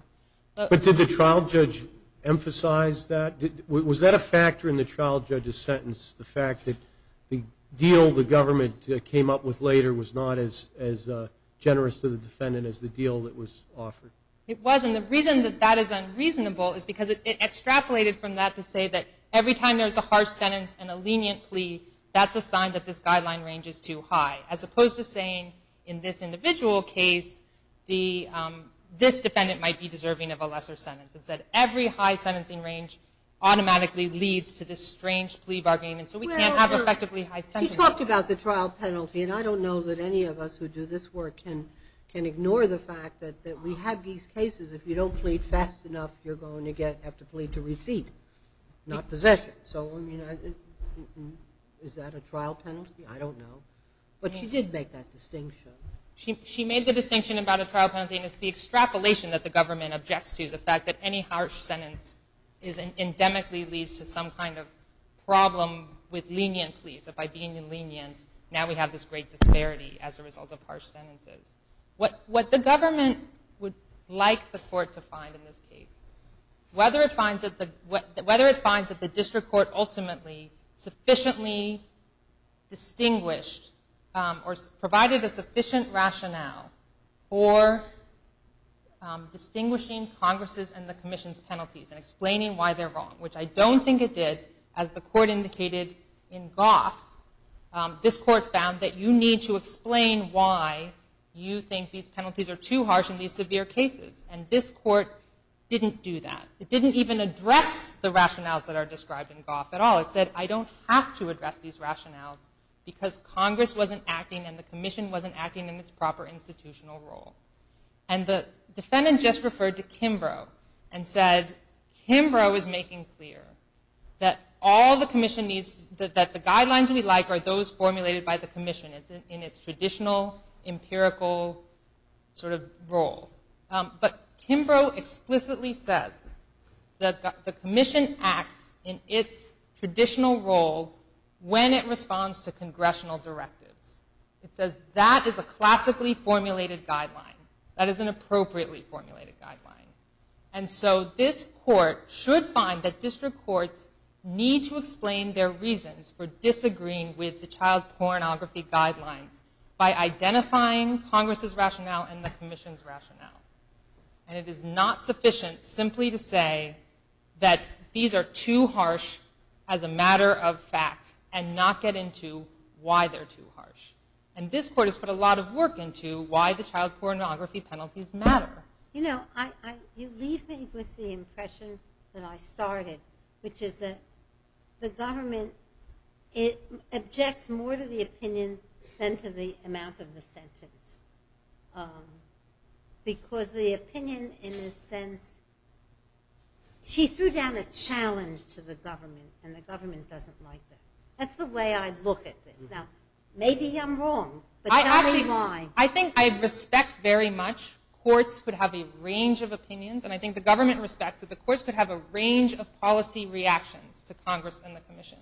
But did the trial judge emphasize that? Was that a factor in the trial judge's sentence, the fact that the deal the government came up with later was not as generous to the defendant as the deal that was offered? It wasn't. And the reason that that is unreasonable is because it extrapolated from that to say that every time there's a harsh sentence and a lenient plea, that's a sign that this guideline range is too high, as opposed to saying in this individual case this defendant might be deserving of a lesser sentence. It said every high sentencing range automatically leads to this strange plea bargaining, and so we can't have effectively high sentences. You talked about the trial penalty, and I don't know that any of us who do this work can ignore the fact that we have these cases if you don't plead fast enough, you're going to have to plead to receipt, not possession. So, I mean, is that a trial penalty? I don't know. But she did make that distinction. She made the distinction about a trial penalty, and it's the extrapolation that the government objects to, the fact that any harsh sentence endemically leads to some kind of problem with lenient pleas, that by being lenient, now we have this great disparity as a result of harsh sentences. What the government would like the court to find in this case, whether it finds that the district court ultimately sufficiently distinguished or provided a sufficient rationale for distinguishing Congress' and the Commission's penalties and explaining why they're wrong, which I don't think it did, as the court indicated in Goff, this court found that you need to explain why you think these penalties are too harsh in these severe cases, and this court didn't do that. It didn't even address the rationales that are described in Goff at all. It said, I don't have to address these rationales because Congress wasn't acting and the Commission wasn't acting in its proper institutional role. And the defendant just referred to Kimbrough and said, Kimbrough is making clear that all the Commission needs, that the guidelines we like are those formulated by the Commission in its traditional, empirical sort of role. But Kimbrough explicitly says that the Commission acts in its traditional role when it responds to congressional directives. It says that is a classically formulated guideline. That is an appropriately formulated guideline. And so this court should find that district courts need to explain their reasons for disagreeing with the child pornography guidelines by identifying Congress' rationale and the Commission's rationale. And it is not sufficient simply to say that these are too harsh as a matter of fact and not get into why they're too harsh. And this court has put a lot of work into why the child pornography penalties matter. You know, you leave me with the impression that I started, which is that the government objects more to the opinion than to the amount of the sentence. Because the opinion in this sense, she threw down a challenge to the government and the government doesn't like that. That's the way I look at this. Now, maybe I'm wrong, but tell me why. I think I respect very much courts could have a range of opinions and I think the government respects that the courts could have a range of policy reactions to Congress and the Commission.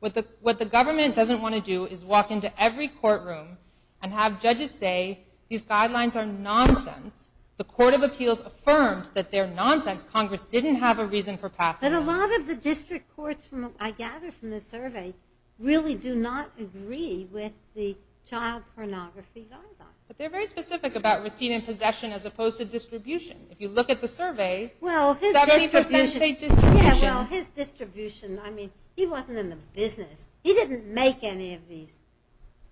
What the government doesn't want to do is walk into every courtroom and have judges say these guidelines are nonsense. The Court of Appeals affirmed that they're nonsense. Congress didn't have a reason for passing them. But a lot of the district courts I gather from this survey really do not agree with the child pornography guidelines. But they're very specific about receipt and possession as opposed to distribution. If you look at the survey, 70% state distribution. Well, his distribution, I mean, he wasn't in the business. He didn't make any of these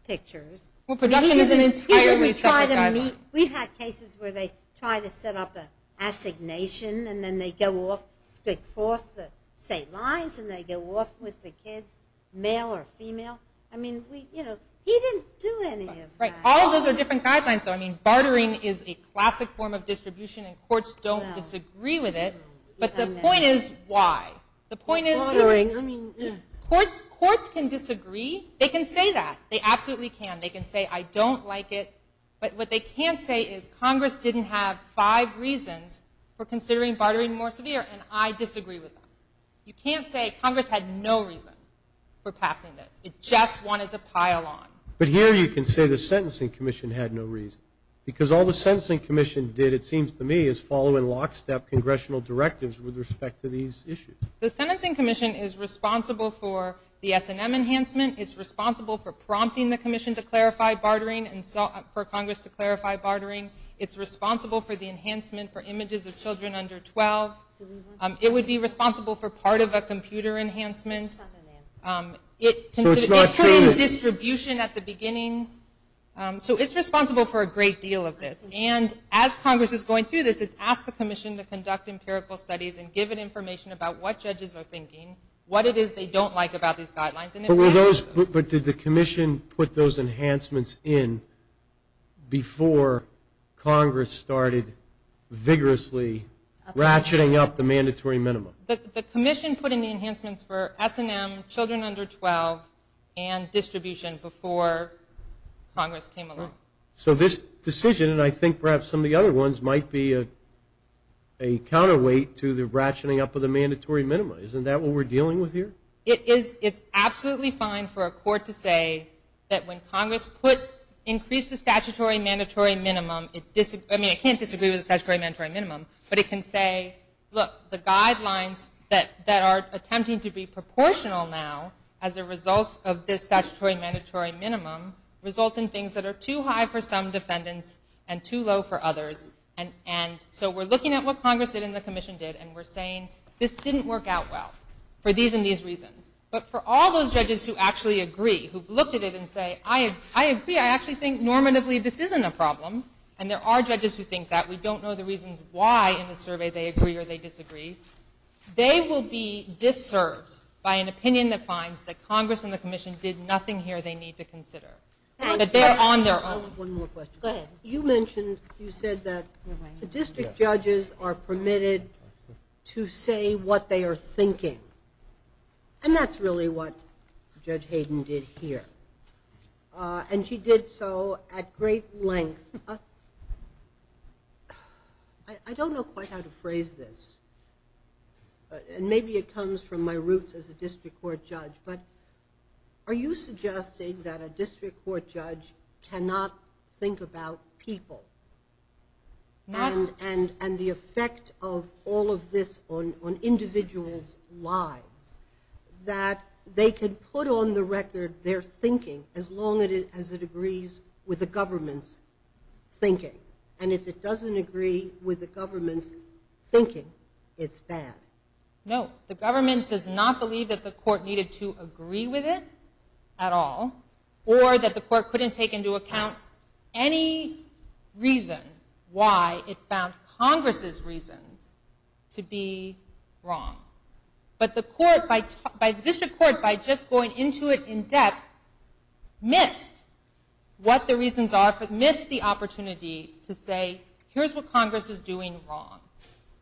pictures. Production is an entirely separate guideline. We've had cases where they try to set up an assignation and then they go off, they cross the state lines and they go off with the kids, male or female. I mean, you know, he didn't do any of that. All of those are different guidelines, though. Bartering is a classic form of distribution and courts don't disagree with it. But the point is why? The point is courts can disagree. They can say that. They absolutely can. They can say I don't like it. But what they can't say is Congress didn't have five reasons for considering bartering more severe, and I disagree with them. You can't say Congress had no reason for passing this. It just wanted to pile on. But here you can say the Sentencing Commission had no reason because all the Sentencing Commission did, it seems to me, is follow in lockstep congressional directives with respect to these issues. The Sentencing Commission is responsible for the S&M enhancement. It's responsible for prompting the commission to clarify bartering and for Congress to clarify bartering. It's responsible for the enhancement for images of children under 12. It would be responsible for part of a computer enhancement. It put in distribution at the beginning. So it's responsible for a great deal of this. And as Congress is going through this, it's asked the commission to conduct empirical studies and give it information about what judges are thinking, what it is they don't like about these guidelines. But did the commission put those enhancements in before Congress started vigorously ratcheting up the mandatory minimum? The commission put in the enhancements for S&M, children under 12, and distribution before Congress came along. So this decision, and I think perhaps some of the other ones, might be a counterweight to the ratcheting up of the mandatory minimum. Isn't that what we're dealing with here? It is. It's absolutely fine for a court to say that when Congress put, increased the statutory mandatory minimum, I mean it can't disagree with the statutory mandatory minimum, but it can say, look, the guidelines that are attempting to be proportional now as a result of this statutory mandatory minimum result in things that are too high for some defendants and too low for others. And so we're looking at what Congress did and the commission did, and we're saying this didn't work out well for these and these reasons. But for all those judges who actually agree, who've looked at it and say, I agree, I actually think normatively this isn't a problem, and there are judges who think that. We don't know the reasons why in the survey they agree or they disagree. They will be disserved by an opinion that finds that Congress and the commission did nothing here they need to consider. But they're on their own. I have one more question. Go ahead. You mentioned, you said that the district judges are permitted to say what they are thinking, and that's really what Judge Hayden did here. And she did so at great length. I don't know quite how to phrase this, and maybe it comes from my roots as a district court judge, but are you suggesting that a district court judge cannot think about people and the effect of all of this on individuals' lives, that they can put on the record their thinking as long as it agrees with the government's thinking? And if it doesn't agree with the government's thinking, it's bad? No. The government does not believe that the court needed to agree with it at all or that the court couldn't take into account any reason why it found Congress's reasons to be wrong. But the district court, by just going into it in depth, missed what the reasons are, missed the opportunity to say, here's what Congress is doing wrong.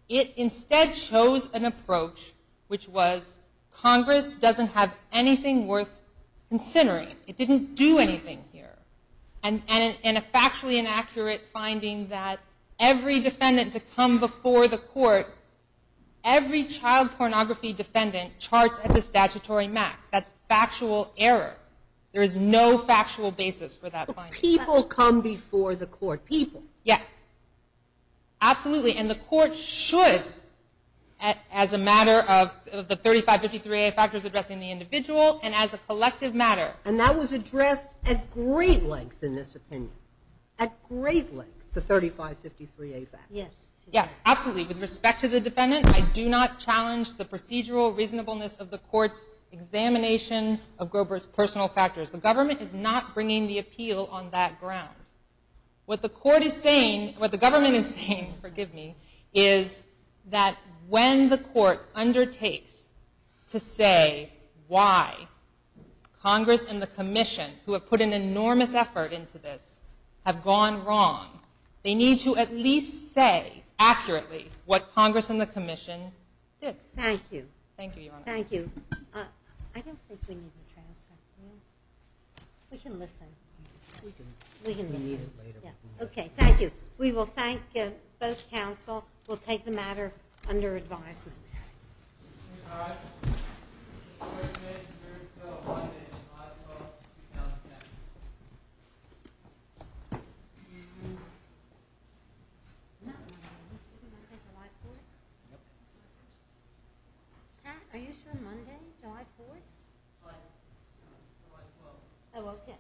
It instead chose an approach which was, Congress doesn't have anything worth considering. It didn't do anything here. And a factually inaccurate finding that every defendant to come before the court, every child pornography defendant charts at the statutory max. That's factual error. There is no factual basis for that finding. But people come before the court. People. Yes. Absolutely. And the court should, as a matter of the 3553A factors addressing the individual and as a collective matter. And that was addressed at great length in this opinion, at great length, the 3553A factors. Yes. Absolutely. With respect to the defendant, I do not challenge the procedural reasonableness of the court's examination of Grover's personal factors. The government is not bringing the appeal on that ground. What the court is saying, what the government is saying, forgive me, is that when the court undertakes to say why Congress and the commission, who have put an enormous effort into this, have gone wrong, they need to at least say accurately what Congress and the commission did. Thank you. Thank you, Your Honor. Thank you. I don't think we need the transcript. We can listen. We can listen. Okay. Thank you. We will thank both counsel. We'll take the matter under advisement. All right. Mr. Fairfax, you're due on Monday, July 12th, 2010. Pat, are you sure Monday, July 4th? July 12th. Oh, okay. Okay. Thank you. Thank you.